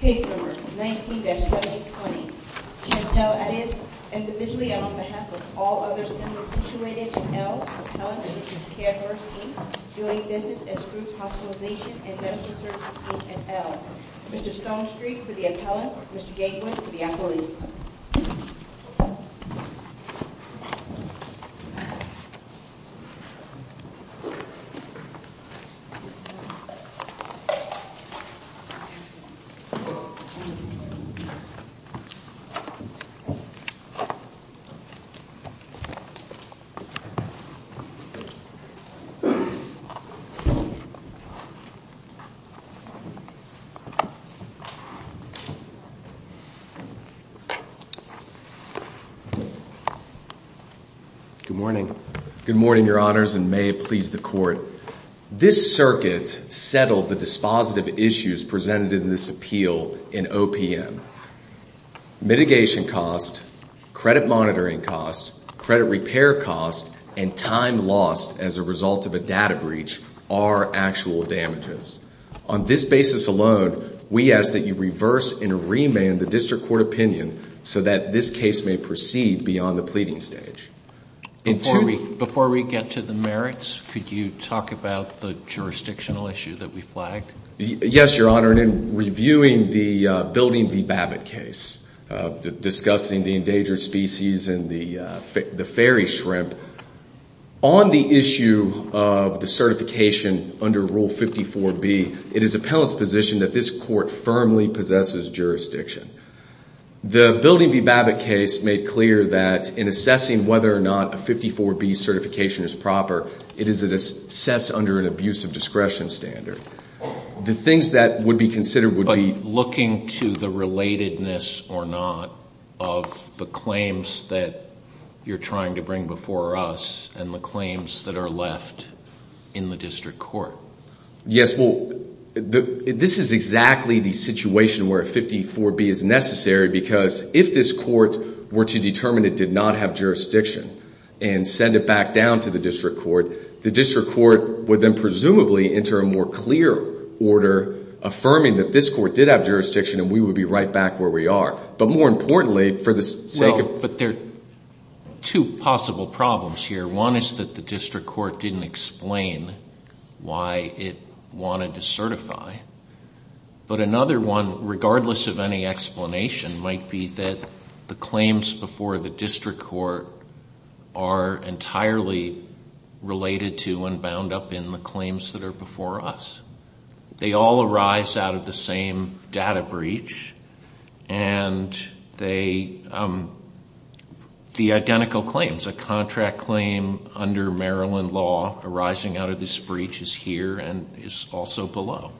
Case No. 19-7020, Chantal Attias. Individually and on behalf of all other citizens situated in L, Appellants v. CareFirst, Inc., doing business as Group Hospitalization and Medical Services, Inc. in L. Mr. Stonestreet for the appellants. Mr. Gatewood for the appellees. Good morning. Good morning, Your Honors, and may it please the Court. This circuit settled the dispositive issues presented in this appeal in OPM. Mitigation costs, credit monitoring costs, credit repair costs, and time lost as a result of a data breach are actual damages. On this basis alone, we ask that you reverse and remand the district court opinion so that this case may proceed beyond the pleading stage. Before we get to the merits, could you talk about the jurisdictional issue that we flagged? Yes, Your Honor, and in reviewing the Building v. Babbitt case, discussing the endangered species and the fairy shrimp, on the issue of the certification under Rule 54B, it is appellant's position that this court firmly possesses jurisdiction. The Building v. Babbitt case made clear that in assessing whether or not a 54B certification is proper, it is assessed under an abuse of discretion standard. The things that would be considered would be... But looking to the relatedness or not of the claims that you're trying to bring before us and the claims that are left in the district court. Yes, well, this is exactly the situation where a 54B is necessary because if this court were to determine it did not have jurisdiction and send it back down to the district court, the district court would then presumably enter a more clear order affirming that this court did have jurisdiction and we would be right back where we are. But more importantly, for the sake of... Well, but there are two possible problems here. One is that the district court didn't explain why it wanted to certify. But another one, regardless of any explanation, might be that the claims before the district court are entirely related to and bound up in the claims that are before us. They all arise out of the same data breach and they... The identical claims, a contract claim under Maryland law arising out of this breach is here and is also below.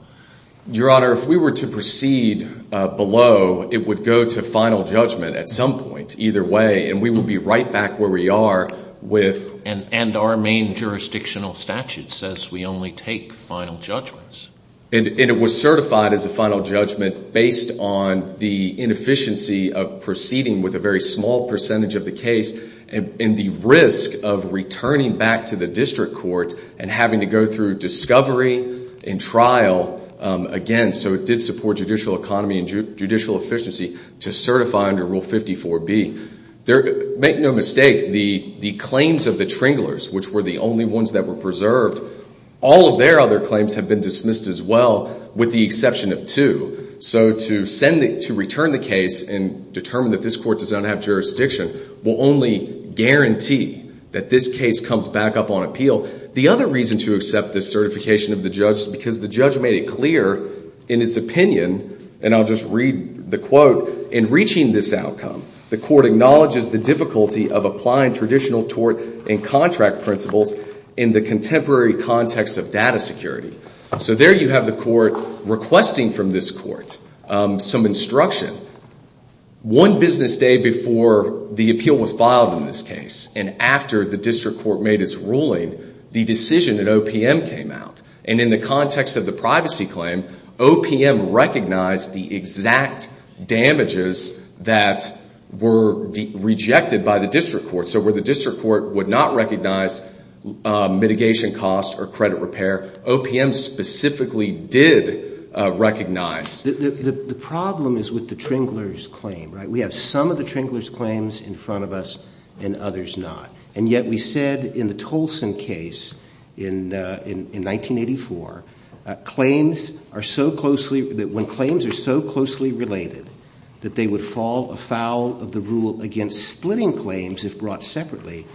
Your Honor, if we were to proceed below, it would go to final judgment at some point either way and we would be right back where we are with... And our main jurisdictional statute says we only take final judgments. And it was certified as a final judgment based on the inefficiency of proceeding with a very small percentage of the case and the risk of returning back to the district court and having to go through discovery and trial again. So it did support judicial economy and judicial efficiency to certify under Rule 54B. Make no mistake, the claims of the Tringlers, which were the only ones that were preserved, all of their other claims have been dismissed as well with the exception of two. So to return the case and determine that this court does not have jurisdiction will only guarantee that this case comes back up on appeal. The other reason to accept this certification of the judge is because the judge made it clear in its opinion, and I'll just read the quote, in reaching this outcome, the court acknowledges the difficulty of applying traditional tort and contract principles in the contemporary context of data security. So there you have the court requesting from this court some instruction. One business day before the appeal was filed in this case and after the district court made its ruling, the decision in OPM came out. And in the context of the privacy claim, OPM recognized the exact damages that were rejected by the district court. So where the district court would not recognize mitigation costs or credit repair, OPM specifically did recognize. The problem is with the Tringlers' claim, right? We have some of the Tringlers' claims in front of us and others not. And yet we said in the Tolson case in 1984, when claims are so closely related that they would fall afoul of the rule against splitting claims if brought separately,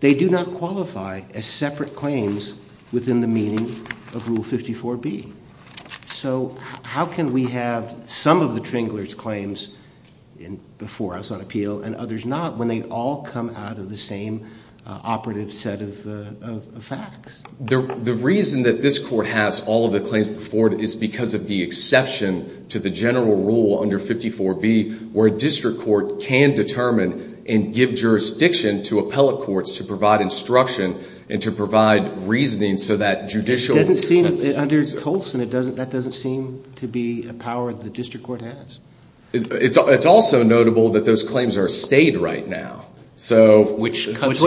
they do not qualify as separate claims within the meaning of Rule 54B. So how can we have some of the Tringlers' claims before us on appeal and others not when they all come out of the same operative set of facts? The reason that this court has all of the claims before it is because of the exception to the general rule under 54B where a district court can determine and give jurisdiction to appellate courts to provide instruction and to provide reasoning so that judicial— Under Tolson, that doesn't seem to be a power the district court has. It's also notable that those claims are stayed right now. Which cuts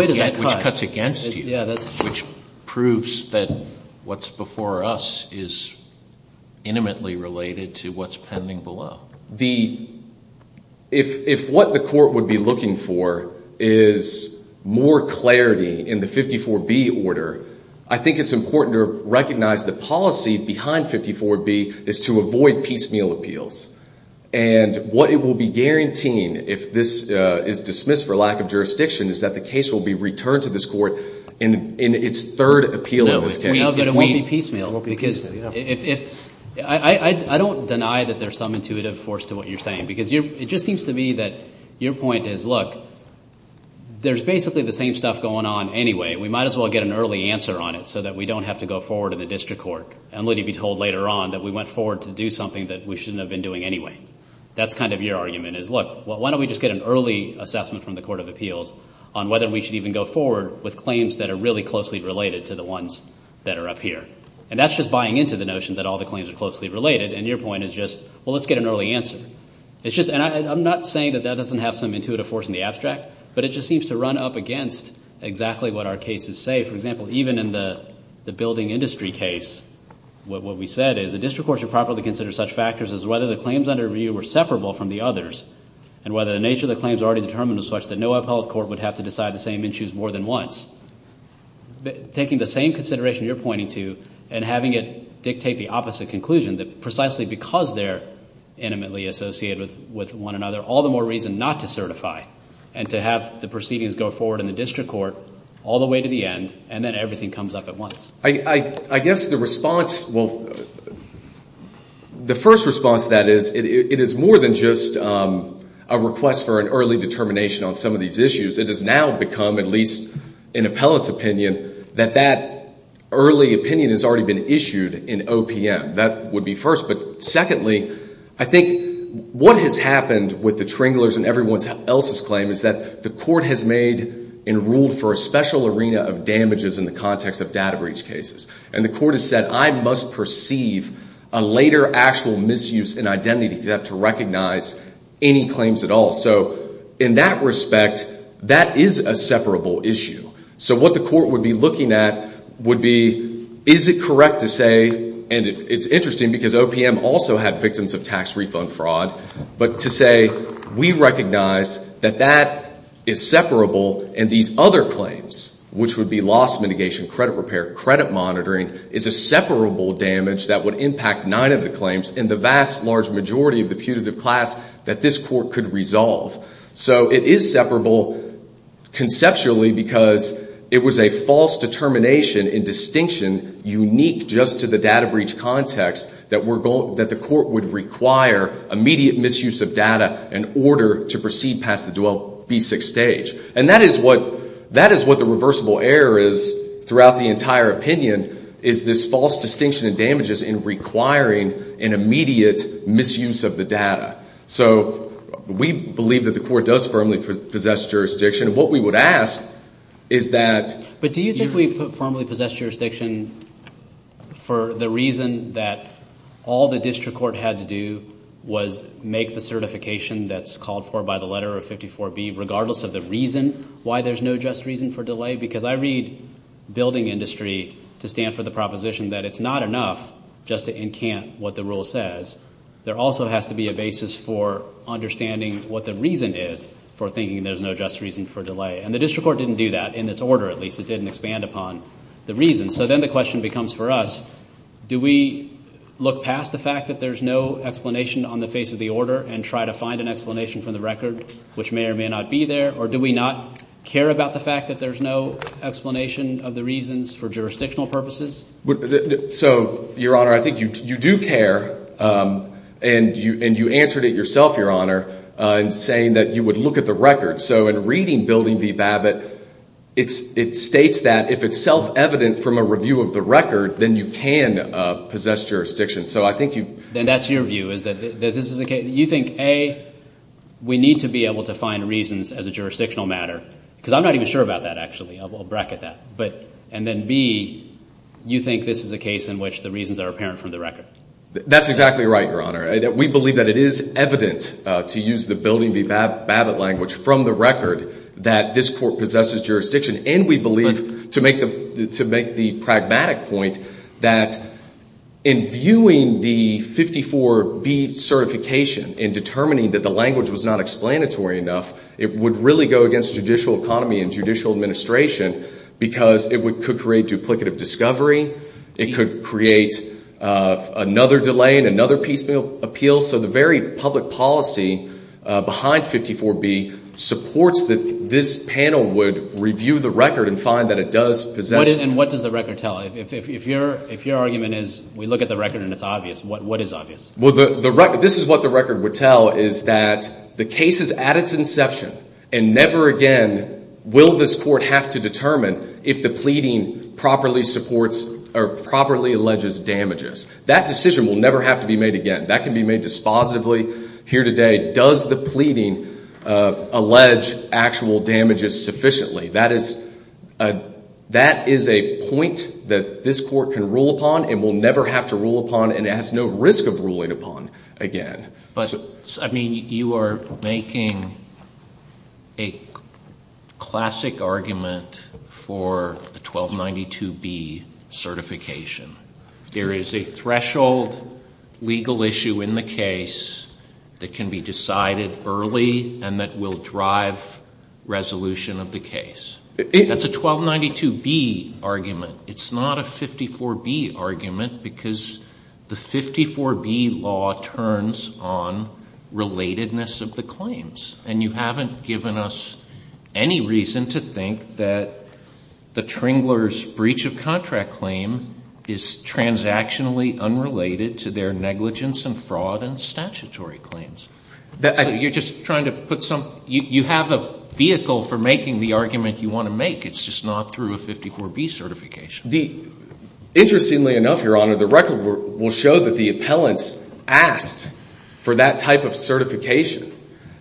against you. Which proves that what's before us is intimately related to what's pending below. If what the court would be looking for is more clarity in the 54B order, I think it's important to recognize the policy behind 54B is to avoid piecemeal appeals. And what it will be guaranteeing if this is dismissed for lack of jurisdiction is that the case will be returned to this court in its third appeal in this case. No, but it won't be piecemeal. I don't deny that there's some intuitive force to what you're saying because it just seems to me that your point is, look, there's basically the same stuff going on anyway. We might as well get an early answer on it so that we don't have to go forward in the district court and really be told later on that we went forward to do something that we shouldn't have been doing anyway. That's kind of your argument is, look, why don't we just get an early assessment from the court of appeals on whether we should even go forward with claims that are really closely related to the ones that are up here. And that's just buying into the notion that all the claims are closely related and your point is just, well, let's get an early answer. And I'm not saying that that doesn't have some intuitive force in the abstract, but it just seems to run up against exactly what our cases say. For example, even in the building industry case, what we said is a district court should properly consider such factors as whether the claims under review were separable from the others and whether the nature of the claims already determined was such that no appellate court would have to decide the same issues more than once. Taking the same consideration you're pointing to and having it dictate the opposite conclusion, that precisely because they're intimately associated with one another, all the more reason not to certify and to have the proceedings go forward in the district court all the way to the end and then everything comes up at once. I guess the response, well, the first response to that is it is more than just a request for an early determination on some of these issues. It has now become, at least in appellate's opinion, that that early opinion has already been issued in OPM. That would be first. But secondly, I think what has happened with the Tringler's and everyone else's claim is that the court has made and ruled for a special arena of damages in the context of data breach cases. And the court has said, I must perceive a later actual misuse in identity to have to recognize any claims at all. So in that respect, that is a separable issue. So what the court would be looking at would be, is it correct to say, and it's interesting because OPM also had victims of tax refund fraud, but to say we recognize that that is separable and these other claims, which would be loss mitigation, credit repair, credit monitoring, is a separable damage that would impact nine of the claims in the vast, large majority of the putative class that this court could resolve. So it is separable conceptually because it was a false determination in distinction unique just to the data breach context that the court would require immediate misuse of data in order to proceed past the B6 stage. And that is what the reversible error is throughout the entire opinion, is this false distinction in damages in requiring an immediate misuse of the data. So we believe that the court does firmly possess jurisdiction. What we would ask is that— But do you think we firmly possess jurisdiction for the reason that all the district court had to do was make the certification that's called for by the letter of 54B, regardless of the reason why there's no just reason for delay? Because I read building industry to stand for the proposition that it's not enough just to encamp what the rule says. There also has to be a basis for understanding what the reason is for thinking there's no just reason for delay. And the district court didn't do that, in its order at least. It didn't expand upon the reason. So then the question becomes for us, do we look past the fact that there's no explanation on the face of the order and try to find an explanation from the record which may or may not be there, or do we not care about the fact that there's no explanation of the reasons for jurisdictional purposes? So, Your Honor, I think you do care, and you answered it yourself, Your Honor, in saying that you would look at the record. So in reading building v. Babbitt, it states that if it's self-evident from a review of the record, then you can possess jurisdiction. So I think you— Then that's your view, is that this is a case— So you think, A, we need to be able to find reasons as a jurisdictional matter, because I'm not even sure about that, actually. I'll bracket that. And then, B, you think this is a case in which the reasons are apparent from the record. That's exactly right, Your Honor. We believe that it is evident, to use the building v. Babbitt language, from the record that this court possesses jurisdiction, and we believe, to make the pragmatic point, that in viewing the 54B certification and determining that the language was not explanatory enough, it would really go against judicial economy and judicial administration because it could create duplicative discovery. It could create another delay and another piecemeal appeal. So the very public policy behind 54B supports that this panel would review the record and find that it does possess— And what does the record tell? If your argument is we look at the record and it's obvious, what is obvious? Well, this is what the record would tell, is that the case is at its inception and never again will this court have to determine if the pleading properly supports or properly alleges damages. That decision will never have to be made again. That can be made dispositively here today. Does the pleading allege actual damages sufficiently? That is a point that this court can rule upon and will never have to rule upon, and it has no risk of ruling upon again. But, I mean, you are making a classic argument for the 1292B certification. There is a threshold legal issue in the case that can be decided early and that will drive resolution of the case. That's a 1292B argument. It's not a 54B argument because the 54B law turns on relatedness of the claims, and you haven't given us any reason to think that the Tringler's breach of contract claim is transactionally unrelated to their negligence and fraud and statutory claims. You have a vehicle for making the argument you want to make. It's just not through a 54B certification. Interestingly enough, Your Honor, the record will show that the appellants asked for that type of certification,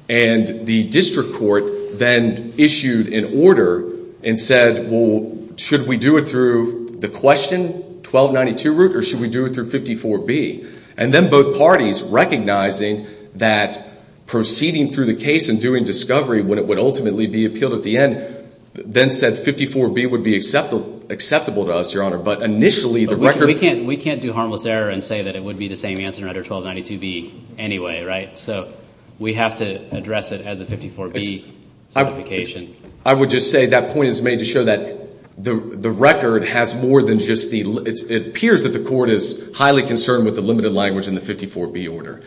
and the district court then issued an order and said, well, should we do it through the question 1292 route or should we do it through 54B? And then both parties, recognizing that proceeding through the case and doing discovery, when it would ultimately be appealed at the end, then said 54B would be acceptable to us, Your Honor. We can't do harmless error and say that it would be the same answer under 1292B anyway, right? So we have to address it as a 54B certification. I would just say that point is made to show that the record has more than just the limit. It appears that the court is highly concerned with the limited language in the 54B order,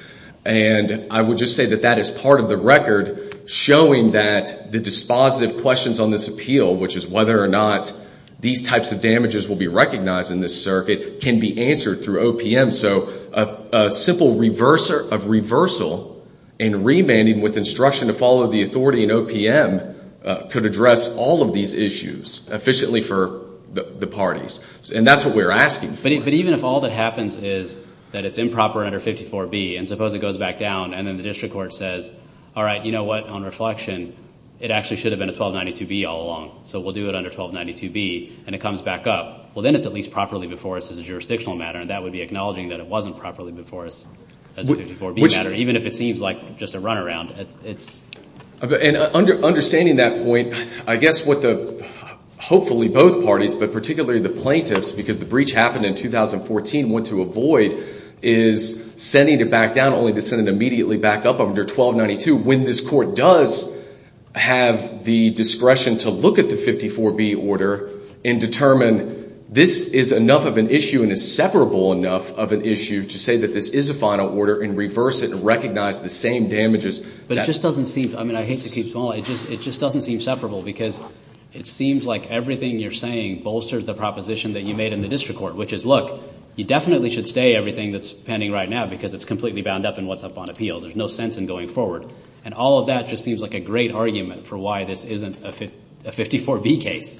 and I would just say that that is part of the record showing that the dispositive questions on this appeal, which is whether or not these types of damages will be recognized in this circuit, can be answered through OPM. So a simple reversal in remanding with instruction to follow the authority in OPM could address all of these issues efficiently for the parties, and that's what we're asking for. But even if all that happens is that it's improper under 54B, and suppose it goes back down, and then the district court says, all right, you know what, on reflection, it actually should have been a 1292B all along, so we'll do it under 1292B, and it comes back up. Well, then it's at least properly before us as a jurisdictional matter, and that would be acknowledging that it wasn't properly before us as a 54B matter, even if it seems like just a runaround. And understanding that point, I guess what the hopefully both parties, but particularly the plaintiffs, because the breach happened in 2014, what to avoid is sending it back down not only to send it immediately back up under 1292, when this court does have the discretion to look at the 54B order and determine this is enough of an issue and is separable enough of an issue to say that this is a final order and reverse it and recognize the same damages. But it just doesn't seem, I mean I hate to keep small, it just doesn't seem separable because it seems like everything you're saying bolsters the proposition that you made in the district court, which is, look, you definitely should stay everything that's pending right now because it's completely bound up in what's up on appeal. There's no sense in going forward. And all of that just seems like a great argument for why this isn't a 54B case.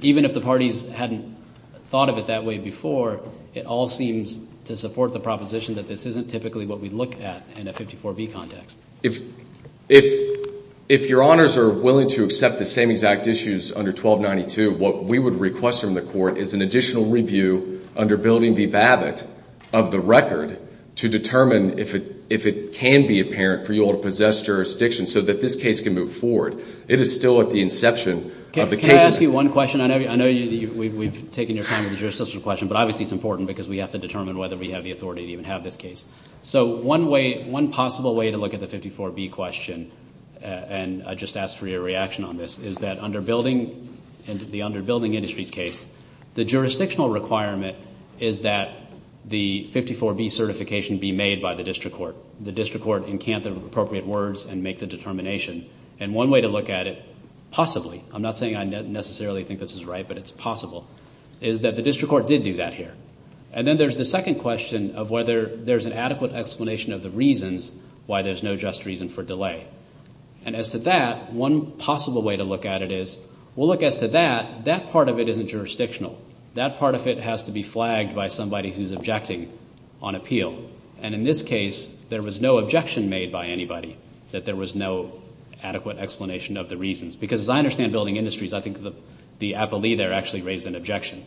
Even if the parties hadn't thought of it that way before, it all seems to support the proposition that this isn't typically what we look at in a 54B context. If your honors are willing to accept the same exact issues under 1292, what we would request from the court is an additional review under Building v. Babbitt of the record to determine if it can be apparent for you all to possess jurisdiction so that this case can move forward. It is still at the inception of the case. Can I ask you one question? I know we've taken your time with the jurisdictional question, but obviously it's important because we have to determine whether we have the authority to even have this case. So one possible way to look at the 54B question, and I just ask for your reaction on this, is that under Building and the under Building Industries case, the jurisdictional requirement is that the 54B certification be made by the district court. The district court encamp the appropriate words and make the determination. And one way to look at it, possibly, I'm not saying I necessarily think this is right, but it's possible, is that the district court did do that here. And then there's the second question of whether there's an adequate explanation of the reasons why there's no just reason for delay. And as to that, one possible way to look at it is, we'll look as to that, that part of it isn't jurisdictional. That part of it has to be flagged by somebody who's objecting on appeal. And in this case, there was no objection made by anybody, that there was no adequate explanation of the reasons. Because as I understand Building Industries, I think the appellee there actually raised an objection.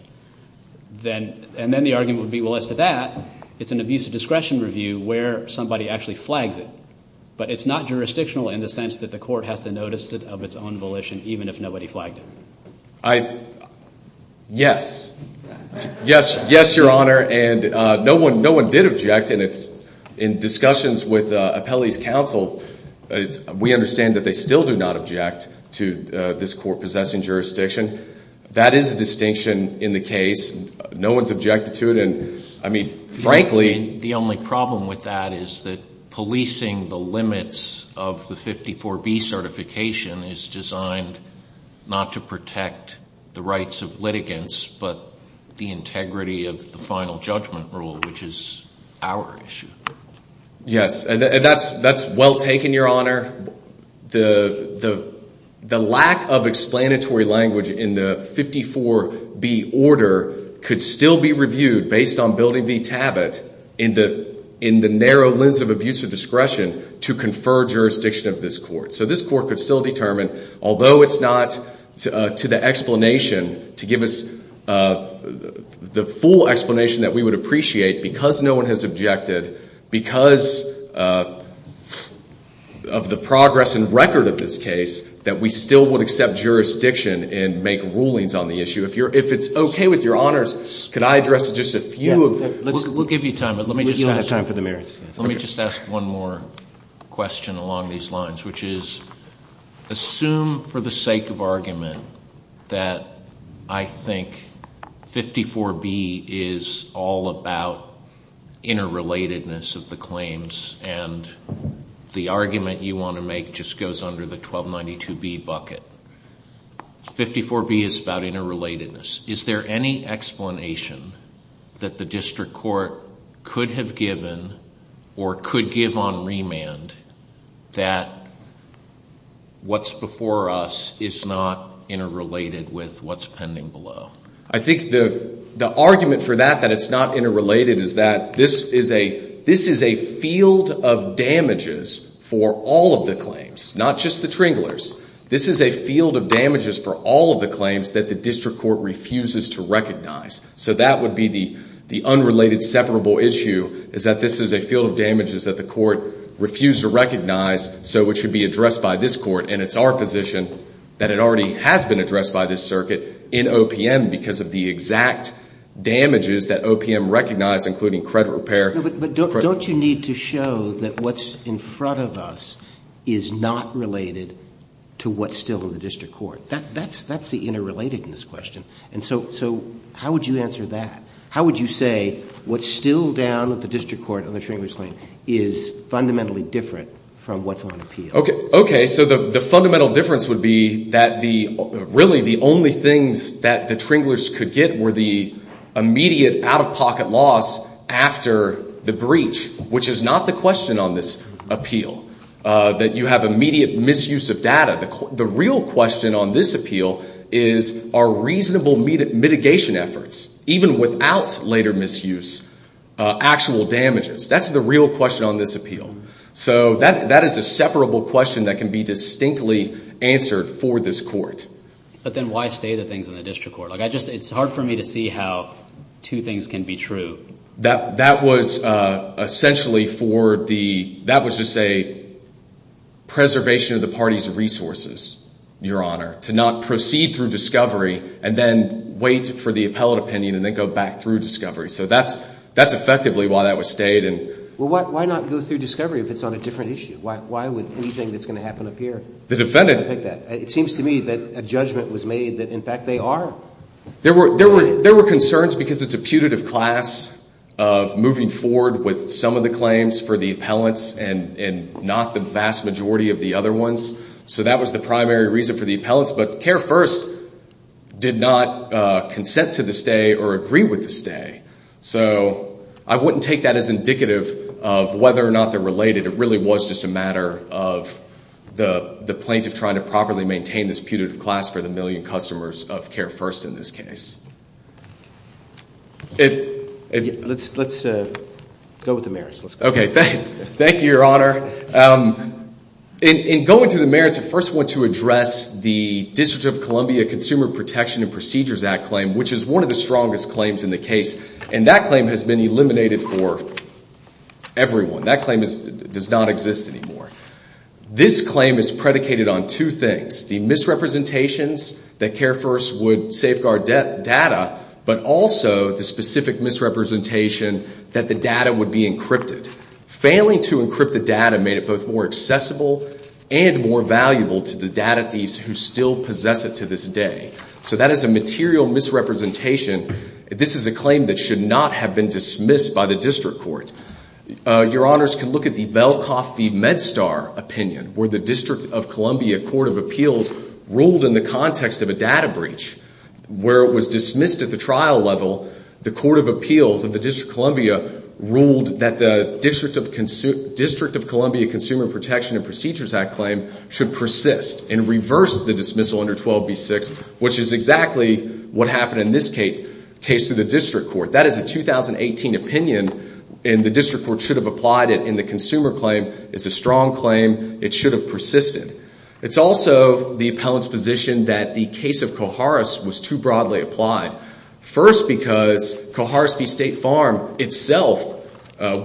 And then the argument would be, well, as to that, it's an abuse of discretion review where somebody actually flags it. But it's not jurisdictional in the sense that the court has to notice it of its own volition even if nobody flagged it. Yes. Yes, Your Honor. And no one did object. And in discussions with appellees' counsel, we understand that they still do not object to this court possessing jurisdiction. That is a distinction in the case. No one's objected to it. And, I mean, frankly the only problem with that is that policing the limits of the 54B certification is designed not to protect the rights of litigants, but the integrity of the final judgment rule, which is our issue. Yes. And that's well taken, Your Honor. The lack of explanatory language in the 54B order could still be reviewed based on Building v. Tabot in the narrow lens of abuse of discretion to confer jurisdiction of this court. So this court could still determine, although it's not to the explanation, to give us the full explanation that we would appreciate because no one has objected, because of the progress and record of this case, that we still would accept jurisdiction and make rulings on the issue. If it's okay with Your Honors, could I address just a few of them? We'll give you time, but let me just ask one more question along these lines, which is assume for the sake of argument that I think 54B is all about interrelatedness of the claims and the argument you want to make just goes under the 1292B bucket. 54B is about interrelatedness. Is there any explanation that the district court could have given or could give on remand that what's before us is not interrelated with what's pending below? I think the argument for that, that it's not interrelated, is that this is a field of damages for all of the claims, not just the Tringlers. This is a field of damages for all of the claims that the district court refuses to recognize. So that would be the unrelated separable issue is that this is a field of damages that the court refused to recognize, so it should be addressed by this court, and it's our position that it already has been addressed by this circuit in OPM because of the exact damages that OPM recognized, including credit repair. But don't you need to show that what's in front of us is not related to what's still in the district court? That's the interrelatedness question. So how would you answer that? How would you say what's still down at the district court on the Tringlers claim is fundamentally different from what's on appeal? Okay, so the fundamental difference would be that really the only things that the Tringlers could get were the immediate out-of-pocket loss after the breach, which is not the question on this appeal, that you have immediate misuse of data. The real question on this appeal is are reasonable mitigation efforts, even without later misuse, actual damages? That's the real question on this appeal. So that is a separable question that can be distinctly answered for this court. But then why stay the things in the district court? It's hard for me to see how two things can be true. That was essentially for the—that was just a preservation of the party's resources, Your Honor, to not proceed through discovery and then wait for the appellate opinion and then go back through discovery. So that's effectively why that was stayed. Well, why not go through discovery if it's on a different issue? Why would anything that's going to happen up here affect that? It seems to me that a judgment was made that, in fact, they are. There were concerns because it's a putative class of moving forward with some of the claims for the appellants and not the vast majority of the other ones. So that was the primary reason for the appellants. But CARE First did not consent to the stay or agree with the stay. So I wouldn't take that as indicative of whether or not they're related. It really was just a matter of the plaintiff trying to properly maintain this putative class for the million customers of CARE First in this case. Let's go with the merits. Okay. Thank you, Your Honor. In going to the merits, I first want to address the District of Columbia Consumer Protection and Procedures Act claim, which is one of the strongest claims in the case. And that claim has been eliminated for everyone. That claim does not exist anymore. This claim is predicated on two things, the misrepresentations that CARE First would safeguard data but also the specific misrepresentation that the data would be encrypted. Failing to encrypt the data made it both more accessible and more valuable to the data thieves who still possess it to this day. So that is a material misrepresentation. This is a claim that should not have been dismissed by the district court. Your Honors can look at the Velkoff v. MedStar opinion, where the District of Columbia Court of Appeals ruled in the context of a data breach. Where it was dismissed at the trial level, the Court of Appeals of the District of Columbia ruled that the District of Columbia Consumer Protection and Procedures Act claim should persist and reverse the dismissal under 12B6, which is exactly what happened in this case to the district court. That is a 2018 opinion, and the district court should have applied it. And the consumer claim is a strong claim. It should have persisted. It's also the appellant's position that the case of Koharis was too broadly applied. First, because Koharis v. State Farm itself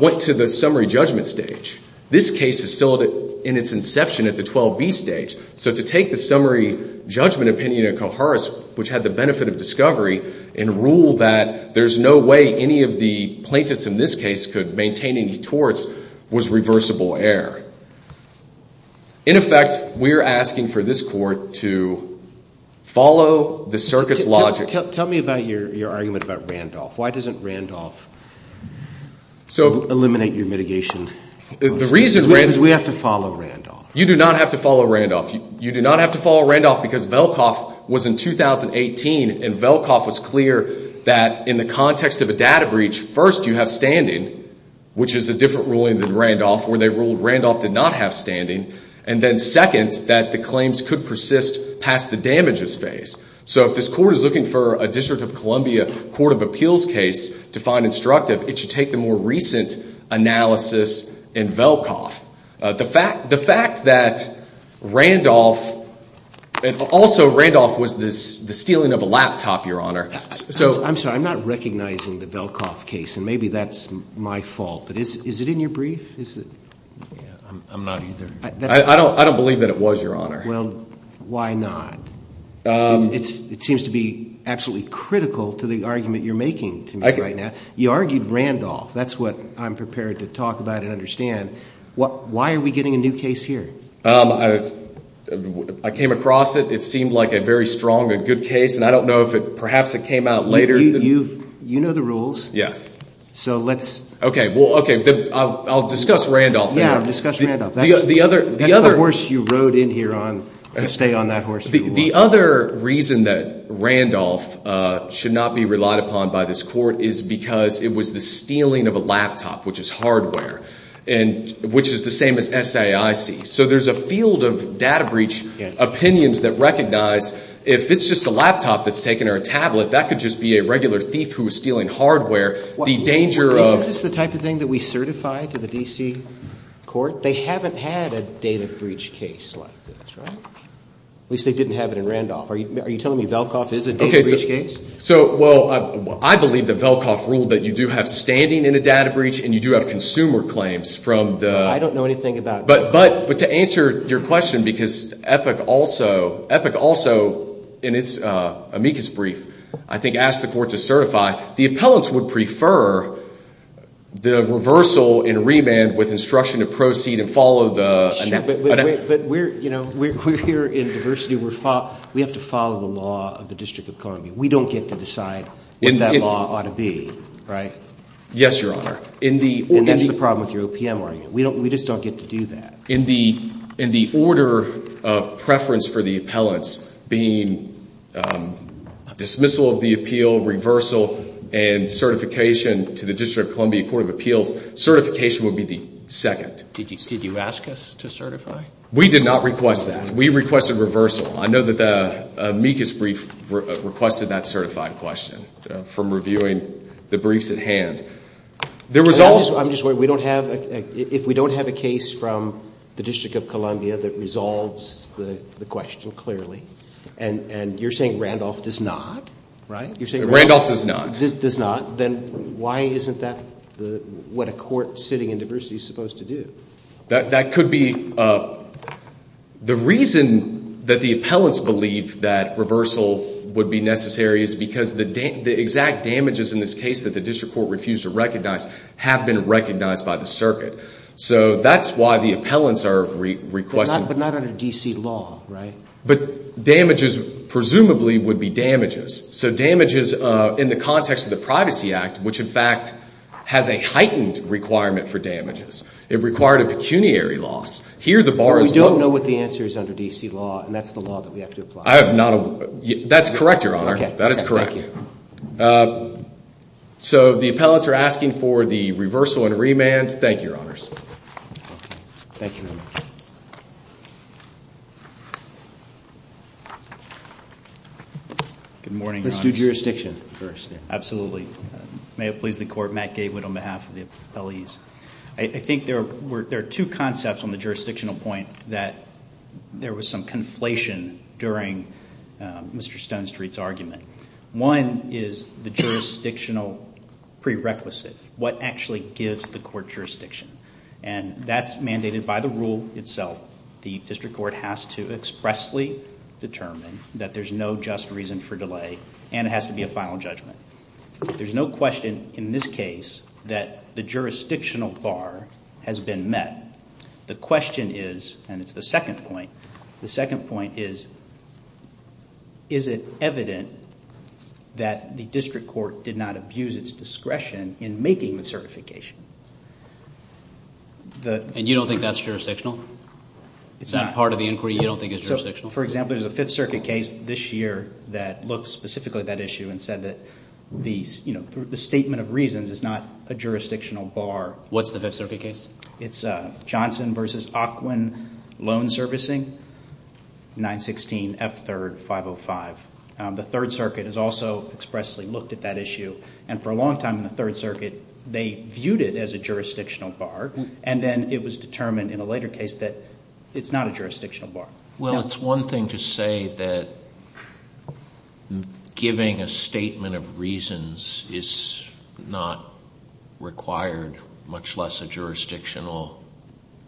went to the summary judgment stage. This case is still in its inception at the 12B stage. So to take the summary judgment opinion of Koharis, which had the benefit of discovery, and rule that there's no way any of the plaintiffs in this case could maintain any torts, was reversible error. In effect, we're asking for this court to follow the circus logic. Tell me about your argument about Randolph. Why doesn't Randolph eliminate your mitigation? The reason is we have to follow Randolph. You do not have to follow Randolph. You do not have to follow Randolph because Velkoff was in 2018, and Velkoff was clear that in the context of a data breach, first you have standing, which is a different ruling than Randolph, where they ruled Randolph did not have standing, and then second, that the claims could persist past the damages phase. So if this court is looking for a District of Columbia Court of Appeals case to find instructive, it should take the more recent analysis in Velkoff. The fact that Randolph, and also Randolph was the stealing of a laptop, Your Honor. I'm sorry. I'm not recognizing the Velkoff case, and maybe that's my fault, but is it in your brief? I'm not either. I don't believe that it was, Your Honor. Well, why not? It seems to be absolutely critical to the argument you're making to me right now. You argued Randolph. That's what I'm prepared to talk about and understand. Why are we getting a new case here? I came across it. It seemed like a very strong and good case, and I don't know if perhaps it came out later. You know the rules. Yes. So let's. Okay. Well, okay. I'll discuss Randolph. Yeah, discuss Randolph. That's the horse you rode in here on. You stay on that horse if you want. The other reason that Randolph should not be relied upon by this court is because it was the stealing of a laptop, which is hardware, which is the same as SAIC. So there's a field of data breach opinions that recognize if it's just a laptop that's taken or a tablet, that could just be a regular thief who was stealing hardware. Isn't this the type of thing that we certify to the D.C. court? They haven't had a data breach case like this, right? At least they didn't have it in Randolph. Are you telling me Velkoff is a data breach case? Okay. So, well, I believe that Velkoff ruled that you do have standing in a data breach and you do have consumer claims from the... I don't know anything about... But to answer your question, because Epic also, in its amicus brief, I think asked the court to certify. The appellants would prefer the reversal in remand with instruction to proceed and follow the... But we're here in diversity. We have to follow the law of the District of Columbia. We don't get to decide what that law ought to be, right? Yes, Your Honor. And that's the problem with your OPM argument. We just don't get to do that. In the order of preference for the appellants being dismissal of the appeal, reversal, and certification to the District of Columbia Court of Appeals, certification would be the second. Did you ask us to certify? We did not request that. We requested reversal. I know that the amicus brief requested that certified question from reviewing the briefs at hand. I'm just wondering, if we don't have a case from the District of Columbia that resolves the question clearly, and you're saying Randolph does not, right? Randolph does not. Does not. Then why isn't that what a court sitting in diversity is supposed to do? The reason that the appellants believe that reversal would be necessary is because the exact damages in this case that the district court refused to recognize have been recognized by the circuit. So that's why the appellants are requesting. But not under D.C. law, right? But damages presumably would be damages. So damages in the context of the Privacy Act, which in fact has a heightened requirement for damages. It required a pecuniary loss. Here the bar is low. But we don't know what the answer is under D.C. law, and that's the law that we have to apply. That's correct, Your Honor. That is correct. So the appellants are asking for the reversal and remand. Thank you, Your Honors. Thank you very much. Good morning, Your Honors. Let's do jurisdiction first. Absolutely. May it please the court, Matt Gaywood on behalf of the appellees. I think there are two concepts on the jurisdictional point that there was some conflation during Mr. Stonestreet's argument. One is the jurisdictional prerequisite. What actually gives the court jurisdiction? And that's mandated by the rule itself. The district court has to expressly determine that there's no just reason for delay, and it has to be a final judgment. There's no question in this case that the jurisdictional bar has been met. The question is, and it's the second point, the second point is, is it evident that the district court did not abuse its discretion in making the certification? And you don't think that's jurisdictional? It's not part of the inquiry? You don't think it's jurisdictional? So, for example, there's a Fifth Circuit case this year that looked specifically at that issue and said that the statement of reasons is not a jurisdictional bar. What's the Fifth Circuit case? It's Johnson v. Ocwen Loan Servicing, 916 F3rd 505. The Third Circuit has also expressly looked at that issue, and for a long time in the Third Circuit they viewed it as a jurisdictional bar, and then it was determined in a later case that it's not a jurisdictional bar. Well, it's one thing to say that giving a statement of reasons is not required, much less a jurisdictional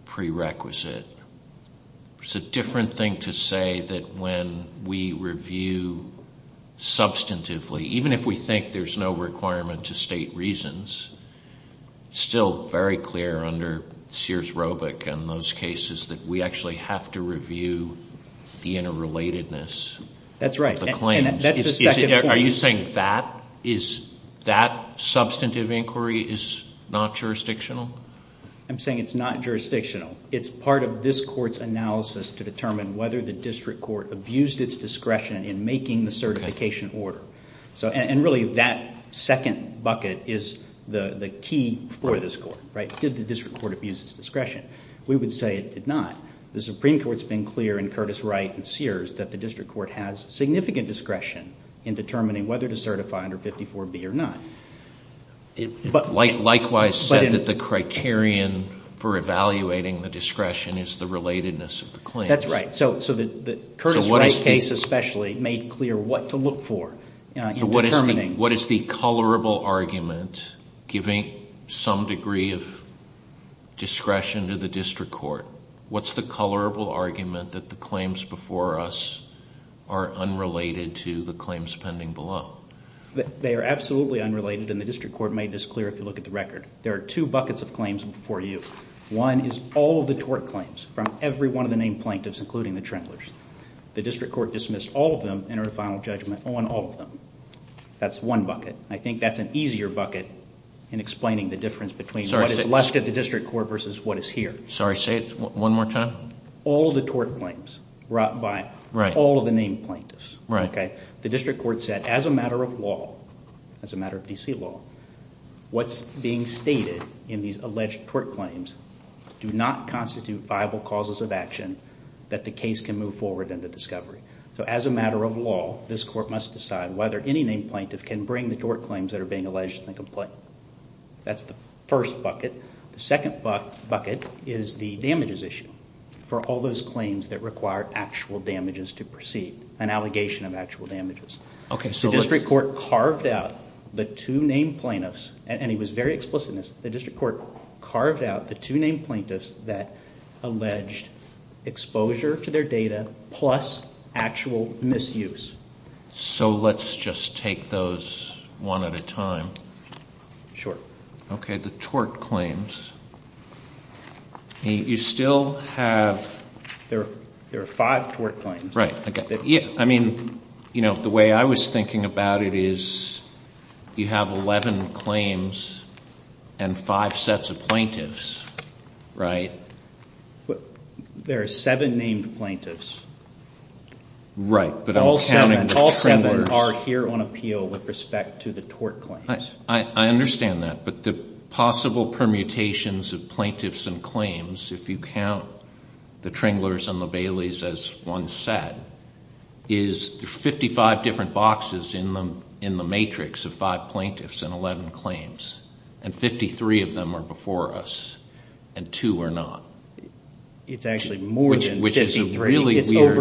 prerequisite. It's a different thing to say that when we review substantively, even if we think there's no requirement to state reasons, it's still very clear under Sears-Robick and those cases that we actually have to review the interrelatedness of the claims. That's right, and that's the second point. Are you saying that substantive inquiry is not jurisdictional? I'm saying it's not jurisdictional. It's part of this Court's analysis to determine whether the district court abused its discretion in making the certification order, and really that second bucket is the key for this Court. Did the district court abuse its discretion? We would say it did not. The Supreme Court has been clear in Curtis-Wright and Sears that the district court has significant discretion in determining whether to certify under 54B or not. Likewise said that the criterion for evaluating the discretion is the relatedness of the claims. That's right. Curtis-Wright's case especially made clear what to look for in determining. What is the colorable argument giving some degree of discretion to the district court? What's the colorable argument that the claims before us are unrelated to the claims pending below? They are absolutely unrelated, and the district court made this clear if you look at the record. There are two buckets of claims before you. One is all of the tort claims from every one of the named plaintiffs, including the Trendlers. The district court dismissed all of them and entered a final judgment on all of them. That's one bucket. I think that's an easier bucket in explaining the difference between what is left at the district court versus what is here. Sorry, say it one more time. All of the tort claims brought by all of the named plaintiffs. The district court said as a matter of law, as a matter of D.C. law, what's being stated in these alleged tort claims do not constitute viable causes of action that the case can move forward into discovery. So as a matter of law, this court must decide whether any named plaintiff can bring the tort claims that are being alleged in the complaint. That's the first bucket. The second bucket is the damages issue for all those claims that require actual damages to proceed, an allegation of actual damages. The district court carved out the two named plaintiffs, and he was very explicit in this. The district court carved out the two named plaintiffs that alleged exposure to their data plus actual misuse. So let's just take those one at a time. Sure. Okay, the tort claims. You still have... There are five tort claims. Right. I mean, you know, the way I was thinking about it is you have 11 claims and five sets of plaintiffs, right? There are seven named plaintiffs. Right, but I'm counting the tremors. All seven are here on appeal with respect to the tort claims. I understand that, but the possible permutations of plaintiffs and claims, if you count the Tremblers and the Bailey's as one set, is there are 55 different boxes in the matrix of five plaintiffs and 11 claims, and 53 of them are before us, and two are not. It's actually more than 53. Which is a really weird... But there are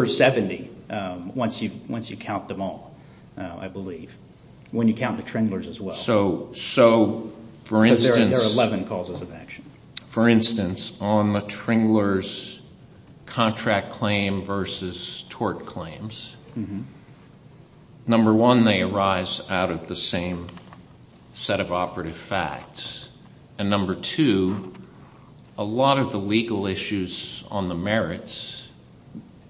11 causes of action. For instance, on the Tremblers' contract claim versus tort claims, number one, they arise out of the same set of operative facts, and number two, a lot of the legal issues on the merits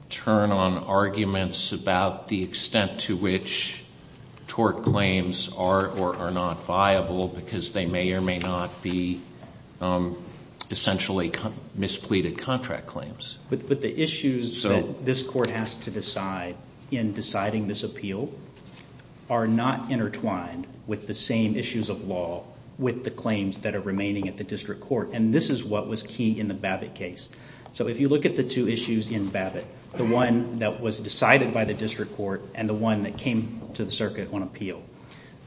turn on arguments about the extent to which tort claims are or are not viable because they may or may not be essentially mispleaded contract claims. But the issues that this court has to decide in deciding this appeal are not intertwined with the same issues of law with the claims that are remaining at the district court, and this is what was key in the Babbitt case. So if you look at the two issues in Babbitt, the one that was decided by the district court and the one that came to the circuit on appeal,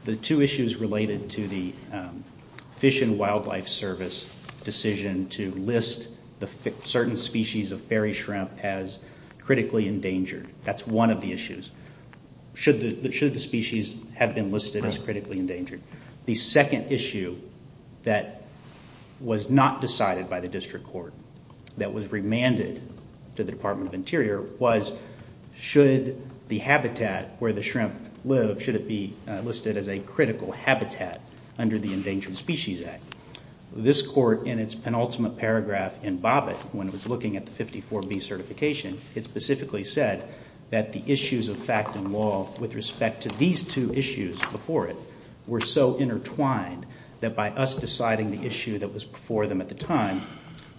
the two issues related to the Fish and Wildlife Service decision to list certain species of fairy shrimp as critically endangered. That's one of the issues. Should the species have been listed as critically endangered? The second issue that was not decided by the district court, that was remanded to the Department of Interior, was should the habitat where the shrimp live, should it be listed as a critical habitat under the Endangered Species Act? This court in its penultimate paragraph in Babbitt when it was looking at the 54B certification, it specifically said that the issues of fact and law with respect to these two issues before it were so intertwined that by us deciding the issue that was before them at the time,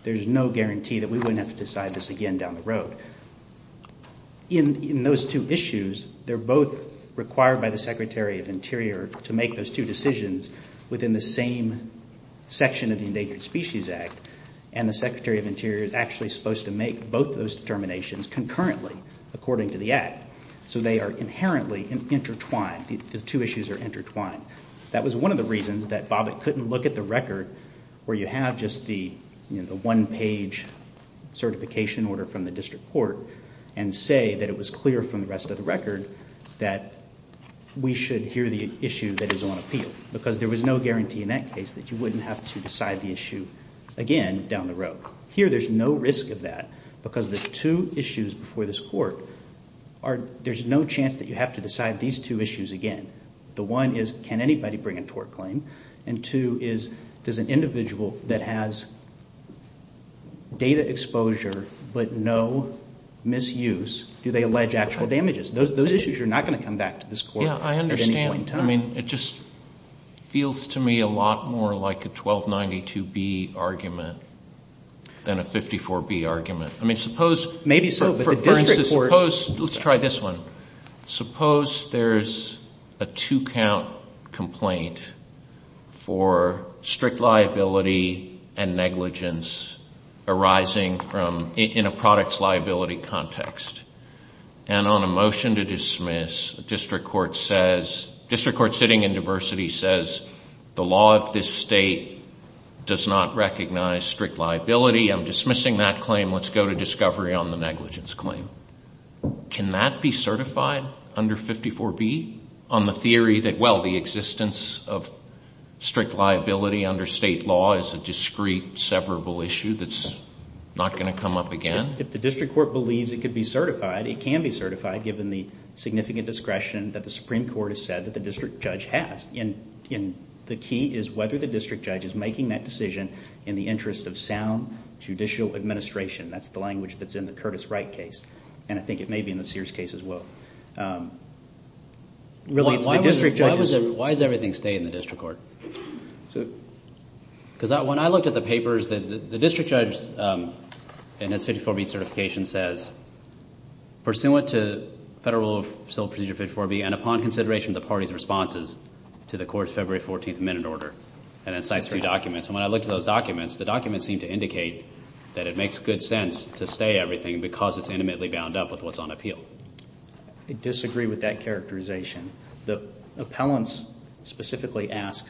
there's no guarantee that we wouldn't have to decide this again down the road. In those two issues, they're both required by the Secretary of Interior to make those two decisions within the same section of the Endangered Species Act, and the Secretary of Interior is actually supposed to make both those determinations concurrently according to the Act. So they are inherently intertwined. The two issues are intertwined. That was one of the reasons that Babbitt couldn't look at the record where you have just the one-page certification order from the district court and say that it was clear from the rest of the record that we should hear the issue that is on appeal because there was no guarantee in that case that you wouldn't have to decide the issue again down the road. Here, there's no risk of that because the two issues before this court, there's no chance that you have to decide these two issues again. The one is, can anybody bring a tort claim? And two is, does an individual that has data exposure but no misuse, do they allege actual damages? Those issues are not going to come back to this court at any point in time. Yeah, I understand. I mean it just feels to me a lot more like a 1292B argument than a 54B argument. I mean suppose— Maybe so, but the district court— a two-count complaint for strict liability and negligence arising from—in a products liability context. And on a motion to dismiss, district court says—district court sitting in diversity says, the law of this state does not recognize strict liability. I'm dismissing that claim. Let's go to discovery on the negligence claim. Can that be certified under 54B on the theory that, well, the existence of strict liability under state law is a discreet, severable issue that's not going to come up again? If the district court believes it could be certified, it can be certified given the significant discretion that the Supreme Court has said that the district judge has. And the key is whether the district judge is making that decision in the interest of sound judicial administration. That's the language that's in the Curtis Wright case, and I think it may be in the Sears case as well. Why does everything stay in the district court? Because when I looked at the papers, the district judge in his 54B certification says, pursuant to Federal Rule of Civil Procedure 54B and upon consideration of the party's responses to the court's February 14th minute order, and then cites two documents. And when I looked at those documents, the documents seem to indicate that it makes good sense to stay everything because it's intimately bound up with what's on appeal. I disagree with that characterization. The appellants specifically ask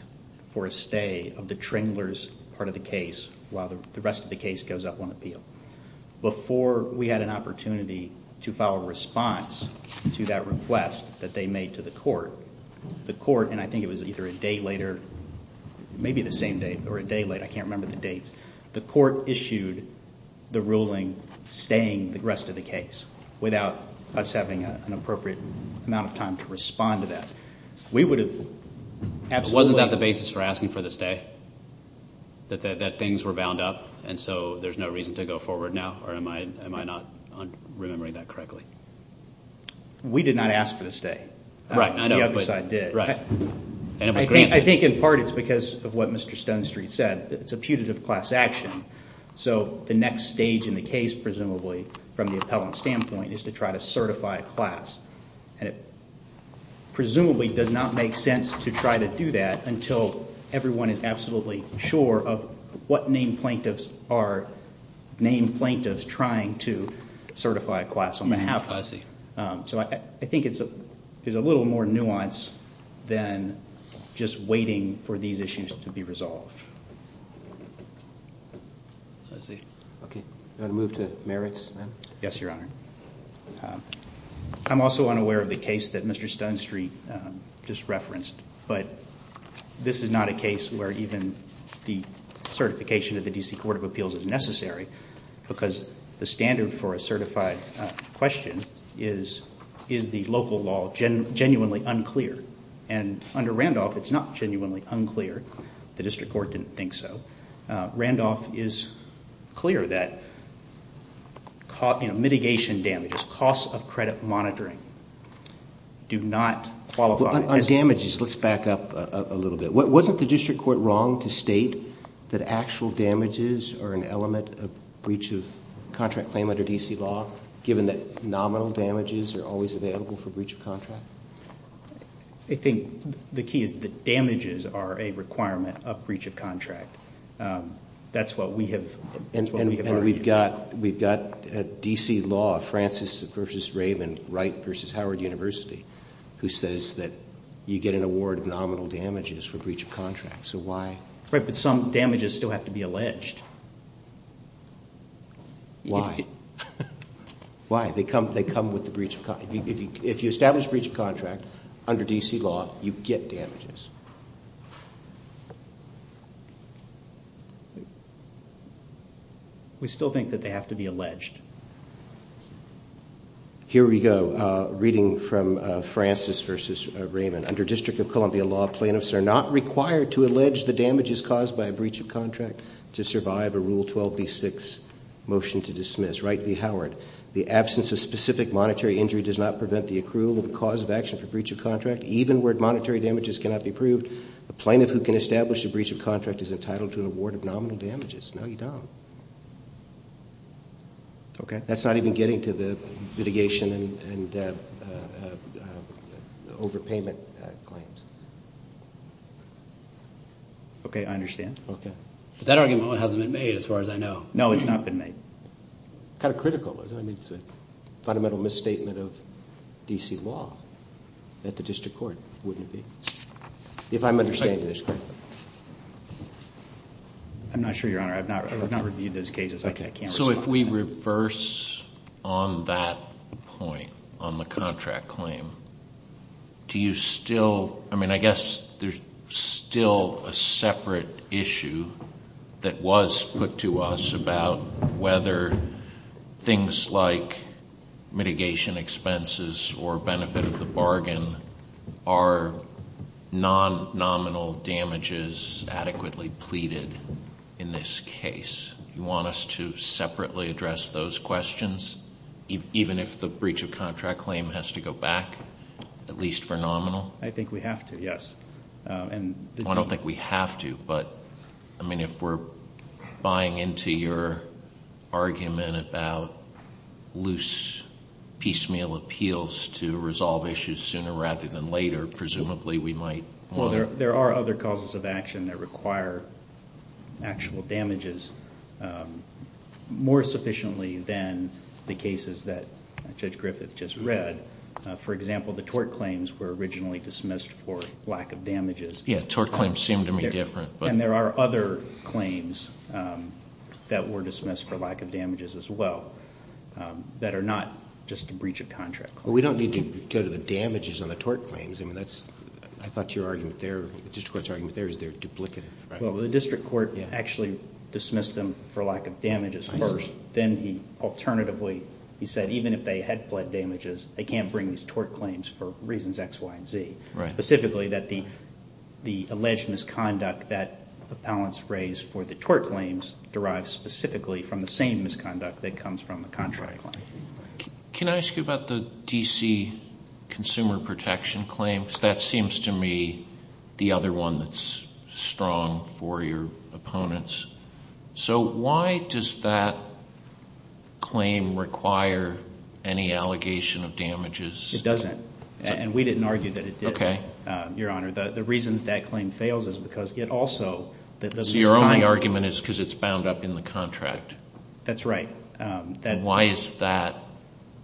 for a stay of the Tringler's part of the case while the rest of the case goes up on appeal. Before we had an opportunity to file a response to that request that they made to the court, and I think it was either a day later, maybe the same day, or a day later, I can't remember the dates, the court issued the ruling staying the rest of the case without us having an appropriate amount of time to respond to that. Wasn't that the basis for asking for the stay? That things were bound up and so there's no reason to go forward now? Or am I not remembering that correctly? We did not ask for the stay. The other side did. I think in part it's because of what Mr. Stonestreet said. It's a putative class action. So the next stage in the case, presumably, from the appellant's standpoint, is to try to certify a class. And it presumably does not make sense to try to do that until everyone is absolutely sure of what name plaintiffs are named plaintiffs and is trying to certify a class on behalf of them. So I think there's a little more nuance than just waiting for these issues to be resolved. I'm also unaware of the case that Mr. Stonestreet just referenced, but this is not a case where even the certification of the D.C. Court of Appeals is necessary because the standard for a certified question is, is the local law genuinely unclear? And under Randolph, it's not genuinely unclear. The district court didn't think so. Randolph is clear that mitigation damages, costs of credit monitoring, do not qualify. On damages, let's back up a little bit. Wasn't the district court wrong to state that actual damages are an element of breach of contract claim under D.C. law, given that nominal damages are always available for breach of contract? I think the key is that damages are a requirement of breach of contract. That's what we have argued. We've got D.C. law, Francis v. Raven, Wright v. Howard University, who says that you get an award of nominal damages for breach of contract. So why? Right, but some damages still have to be alleged. Why? Why? They come with the breach of contract. If you establish breach of contract under D.C. law, you get damages. Why do you think that they have to be alleged? Here we go. Reading from Francis v. Raven. Under District of Columbia law, plaintiffs are not required to allege the damages caused by a breach of contract to survive a Rule 12b-6 motion to dismiss. Wright v. Howard. The absence of specific monetary injury does not prevent the accrual of a cause of action for breach of contract. Even where monetary damages cannot be proved, a plaintiff who can establish a breach of contract is entitled to an award of nominal damages. No, you don't. Okay, that's not even getting to the litigation and overpayment claims. Okay, I understand. Okay. That argument hasn't been made, as far as I know. No, it's not been made. Kind of critical, isn't it? It's a fundamental misstatement of D.C. law that the district court wouldn't be. If I'm understanding this correctly. I'm not sure, Your Honor. I've not reviewed those cases. So if we reverse on that point, on the contract claim, do you still – that was put to us about whether things like mitigation expenses or benefit of the bargain are non-nominal damages adequately pleaded in this case? Do you want us to separately address those questions, even if the breach of contract claim has to go back, at least for nominal? I think we have to, yes. I don't think we have to, but, I mean, if we're buying into your argument about loose, piecemeal appeals to resolve issues sooner rather than later, presumably we might want to. Well, there are other causes of action that require actual damages more sufficiently than the cases that Judge Griffith just read. For example, the tort claims were originally dismissed for lack of damages. Yeah, tort claims seem to me different. And there are other claims that were dismissed for lack of damages as well that are not just a breach of contract claim. Well, we don't need to go to the damages on the tort claims. I mean, that's – I thought your argument there, the district court's argument there is they're duplicative. Well, the district court actually dismissed them for lack of damages first. Then he alternatively, he said even if they had fled damages, they can't bring these tort claims for reasons X, Y, and Z. Specifically that the alleged misconduct that appellants raise for the tort claims derives specifically from the same misconduct that comes from the contract claim. Can I ask you about the D.C. consumer protection claims? That seems to me the other one that's strong for your opponents. So why does that claim require any allegation of damages? It doesn't, and we didn't argue that it did, Your Honor. The reason that that claim fails is because it also – So your only argument is because it's bound up in the contract. That's right. Why is that?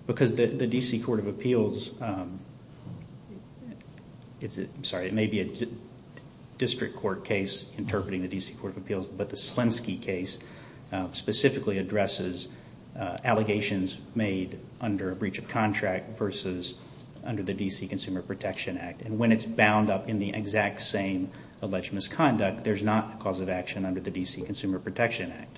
Because the D.C. Court of Appeals – I'm sorry, it may be a district court case interpreting the D.C. Court of Appeals, but the Slensky case specifically addresses allegations made under a breach of contract versus under the D.C. Consumer Protection Act. And when it's bound up in the exact same alleged misconduct, there's not a cause of action under the D.C. Consumer Protection Act.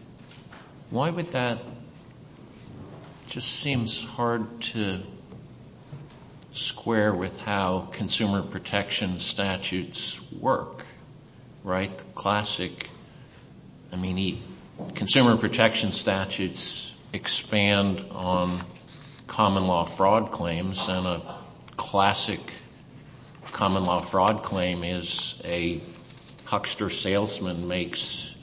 Why would that – it just seems hard to square with how consumer protection statutes work, right? The classic – I mean, consumer protection statutes expand on common law fraud claims, and a classic common law fraud claim is a Huckster salesman makes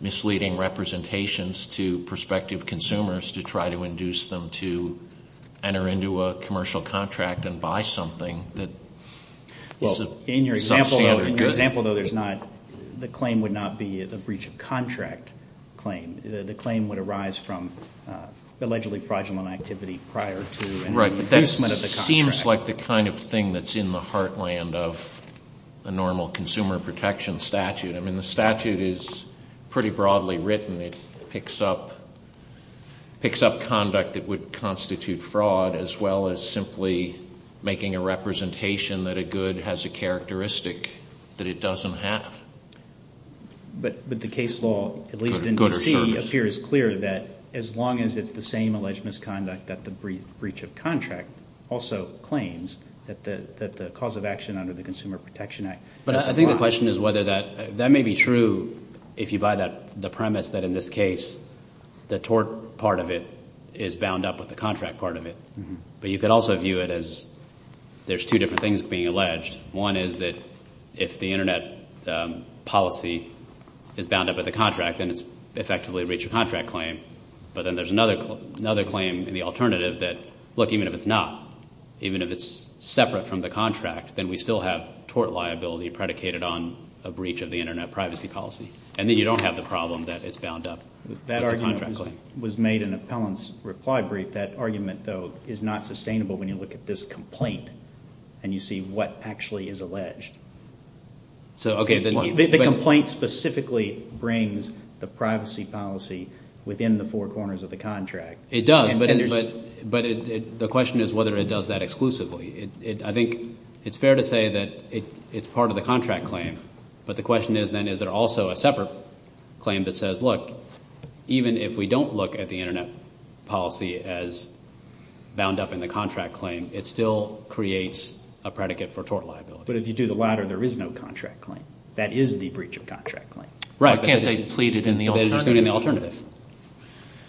misleading representations to prospective consumers to try to induce them to enter into a commercial contract and buy something that is a substandard good. In your example, though, there's not – the claim would not be a breach of contract claim. I mean, the claim would arise from allegedly fraudulent activity prior to an increasement of the contract. Right, but that seems like the kind of thing that's in the heartland of a normal consumer protection statute. I mean, the statute is pretty broadly written. It picks up conduct that would constitute fraud as well as simply making a representation that a good has a characteristic that it doesn't have. But the case law, at least in D.C., appears clear that as long as it's the same alleged misconduct, that the breach of contract also claims that the cause of action under the Consumer Protection Act. But I think the question is whether that – that may be true if you buy the premise that in this case, the tort part of it is bound up with the contract part of it. But you could also view it as there's two different things being alleged. One is that if the Internet policy is bound up with the contract, then it's effectively a breach of contract claim. But then there's another claim in the alternative that, look, even if it's not, even if it's separate from the contract, then we still have tort liability predicated on a breach of the Internet privacy policy. And then you don't have the problem that it's bound up with the contract claim. That argument was made in Appellant's reply brief. I think that argument, though, is not sustainable when you look at this complaint and you see what actually is alleged. The complaint specifically brings the privacy policy within the four corners of the contract. It does, but the question is whether it does that exclusively. I think it's fair to say that it's part of the contract claim. But the question is then is there also a separate claim that says, look, even if we don't look at the Internet policy as bound up in the contract claim, it still creates a predicate for tort liability. But if you do the latter, there is no contract claim. That is the breach of contract claim. But can't they plead it in the alternative? They plead it in the alternative.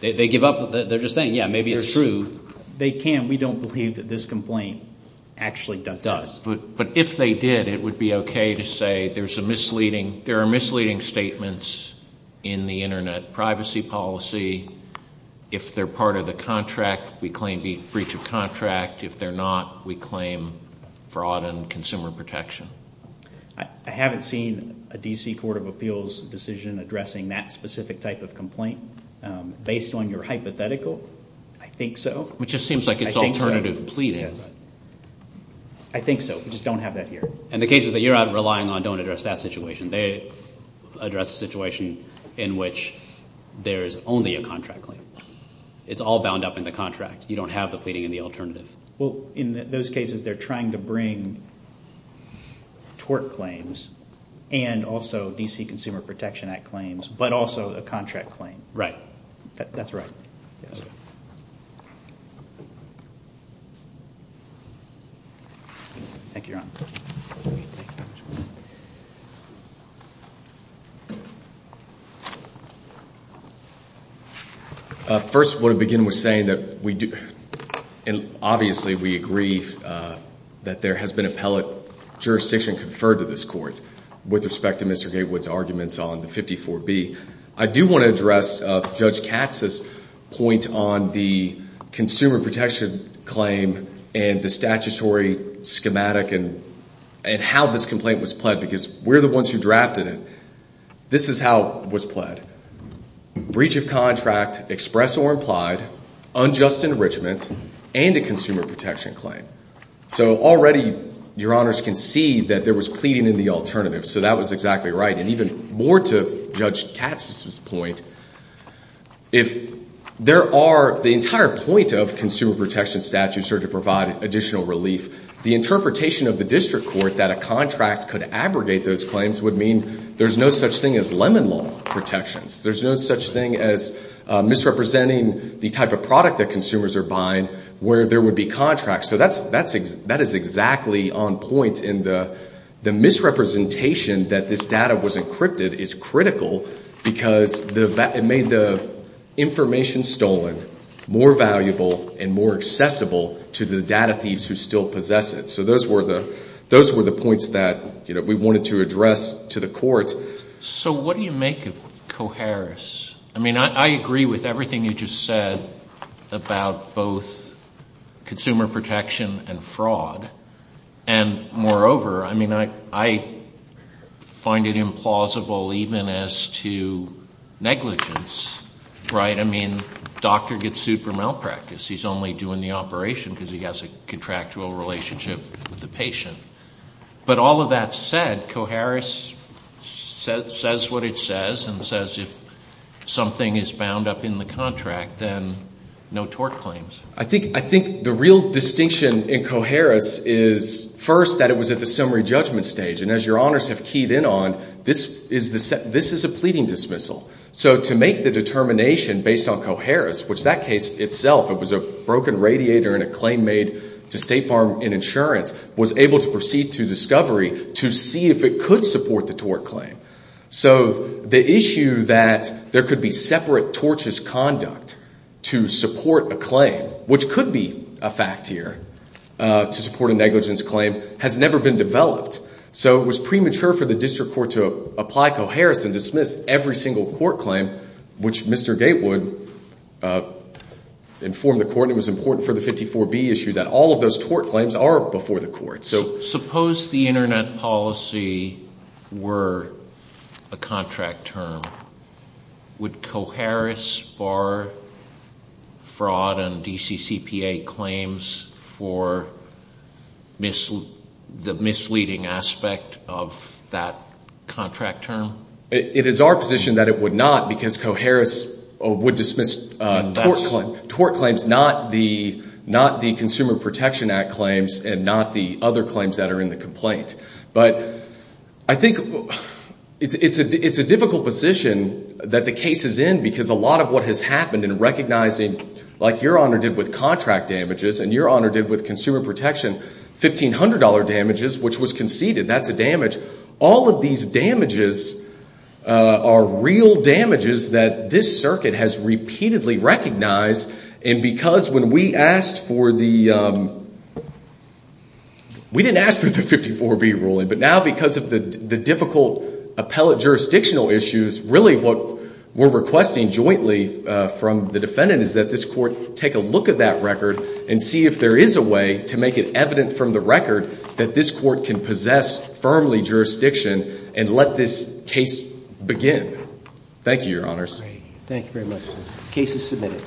They give up. They're just saying, yeah, maybe it's true. They can't. We don't believe that this complaint actually does that. But if they did, it would be okay to say there are misleading statements in the Internet privacy policy. If they're part of the contract, we claim breach of contract. If they're not, we claim fraud and consumer protection. I haven't seen a D.C. Court of Appeals decision addressing that specific type of complaint. Based on your hypothetical, I think so. It just seems like it's alternative pleading. I think so. We just don't have that here. And the cases that you're relying on don't address that situation. They address a situation in which there is only a contract claim. It's all bound up in the contract. You don't have the pleading in the alternative. Well, in those cases, they're trying to bring tort claims and also D.C. Consumer Protection Act claims, but also a contract claim. Right. That's right. Thank you, Your Honor. First, I want to begin with saying that we do—and obviously we agree that there has been appellate jurisdiction conferred to this court with respect to Mr. Gatewood's arguments on 54B. I do want to address Judge Katz's point on the consumer protection claim and the statutory schematic and how this complaint was pled because we're the ones who drafted it. This is how it was pled. Breach of contract, express or implied, unjust enrichment, and a consumer protection claim. So already, Your Honors can see that there was pleading in the alternative, so that was exactly right. And even more to Judge Katz's point, if there are—the entire point of consumer protection statutes are to provide additional relief. The interpretation of the district court that a contract could abrogate those claims would mean there's no such thing as Lemon Law protections. There's no such thing as misrepresenting the type of product that consumers are buying where there would be contracts. So that is exactly on point in the—the misrepresentation that this data was encrypted is critical because it made the information stolen more valuable and more accessible to the data thieves who still possess it. So those were the points that we wanted to address to the court. So what do you make of Coharris? I mean, I agree with everything you just said about both consumer protection and fraud. And moreover, I mean, I find it implausible even as to negligence, right? I mean, doctor gets sued for malpractice. He's only doing the operation because he has a contractual relationship with the patient. But all of that said, Coharris says what it says and says if something is bound up in the contract, then no tort claims. I think the real distinction in Coharris is first that it was at the summary judgment stage. And as Your Honors have keyed in on, this is a pleading dismissal. So to make the determination based on Coharris, which that case itself, it was a broken radiator and a claim made to State Farm and Insurance, was able to proceed to discovery to see if it could support the tort claim. So the issue that there could be separate tortious conduct to support a claim, which could be a fact here to support a negligence claim, has never been developed. So it was premature for the district court to apply Coharris and dismiss every single court claim, which Mr. Gatewood informed the court it was important for the 54B issue that all of those tort claims are before the court. Suppose the Internet policy were a contract term. Would Coharris bar fraud and DCCPA claims for the misleading aspect of that contract term? It is our position that it would not because Coharris would dismiss tort claims, not the Consumer Protection Act claims and not the other claims that are in the complaint. But I think it's a difficult position that the case is in because a lot of what has happened in recognizing, like Your Honor did with contract damages and Your Honor did with consumer protection, $1,500 damages, which was conceded, that's a damage. All of these damages are real damages that this circuit has repeatedly recognized and because when we asked for the 54B ruling, but now because of the difficult appellate jurisdictional issues, really what we're requesting jointly from the defendant is that this court take a look at that record and see if there is a way to make it evident from the record that this court can possess firmly jurisdiction and let this case begin. Thank you, Your Honors. Thank you very much. Case is submitted. Case is submitted.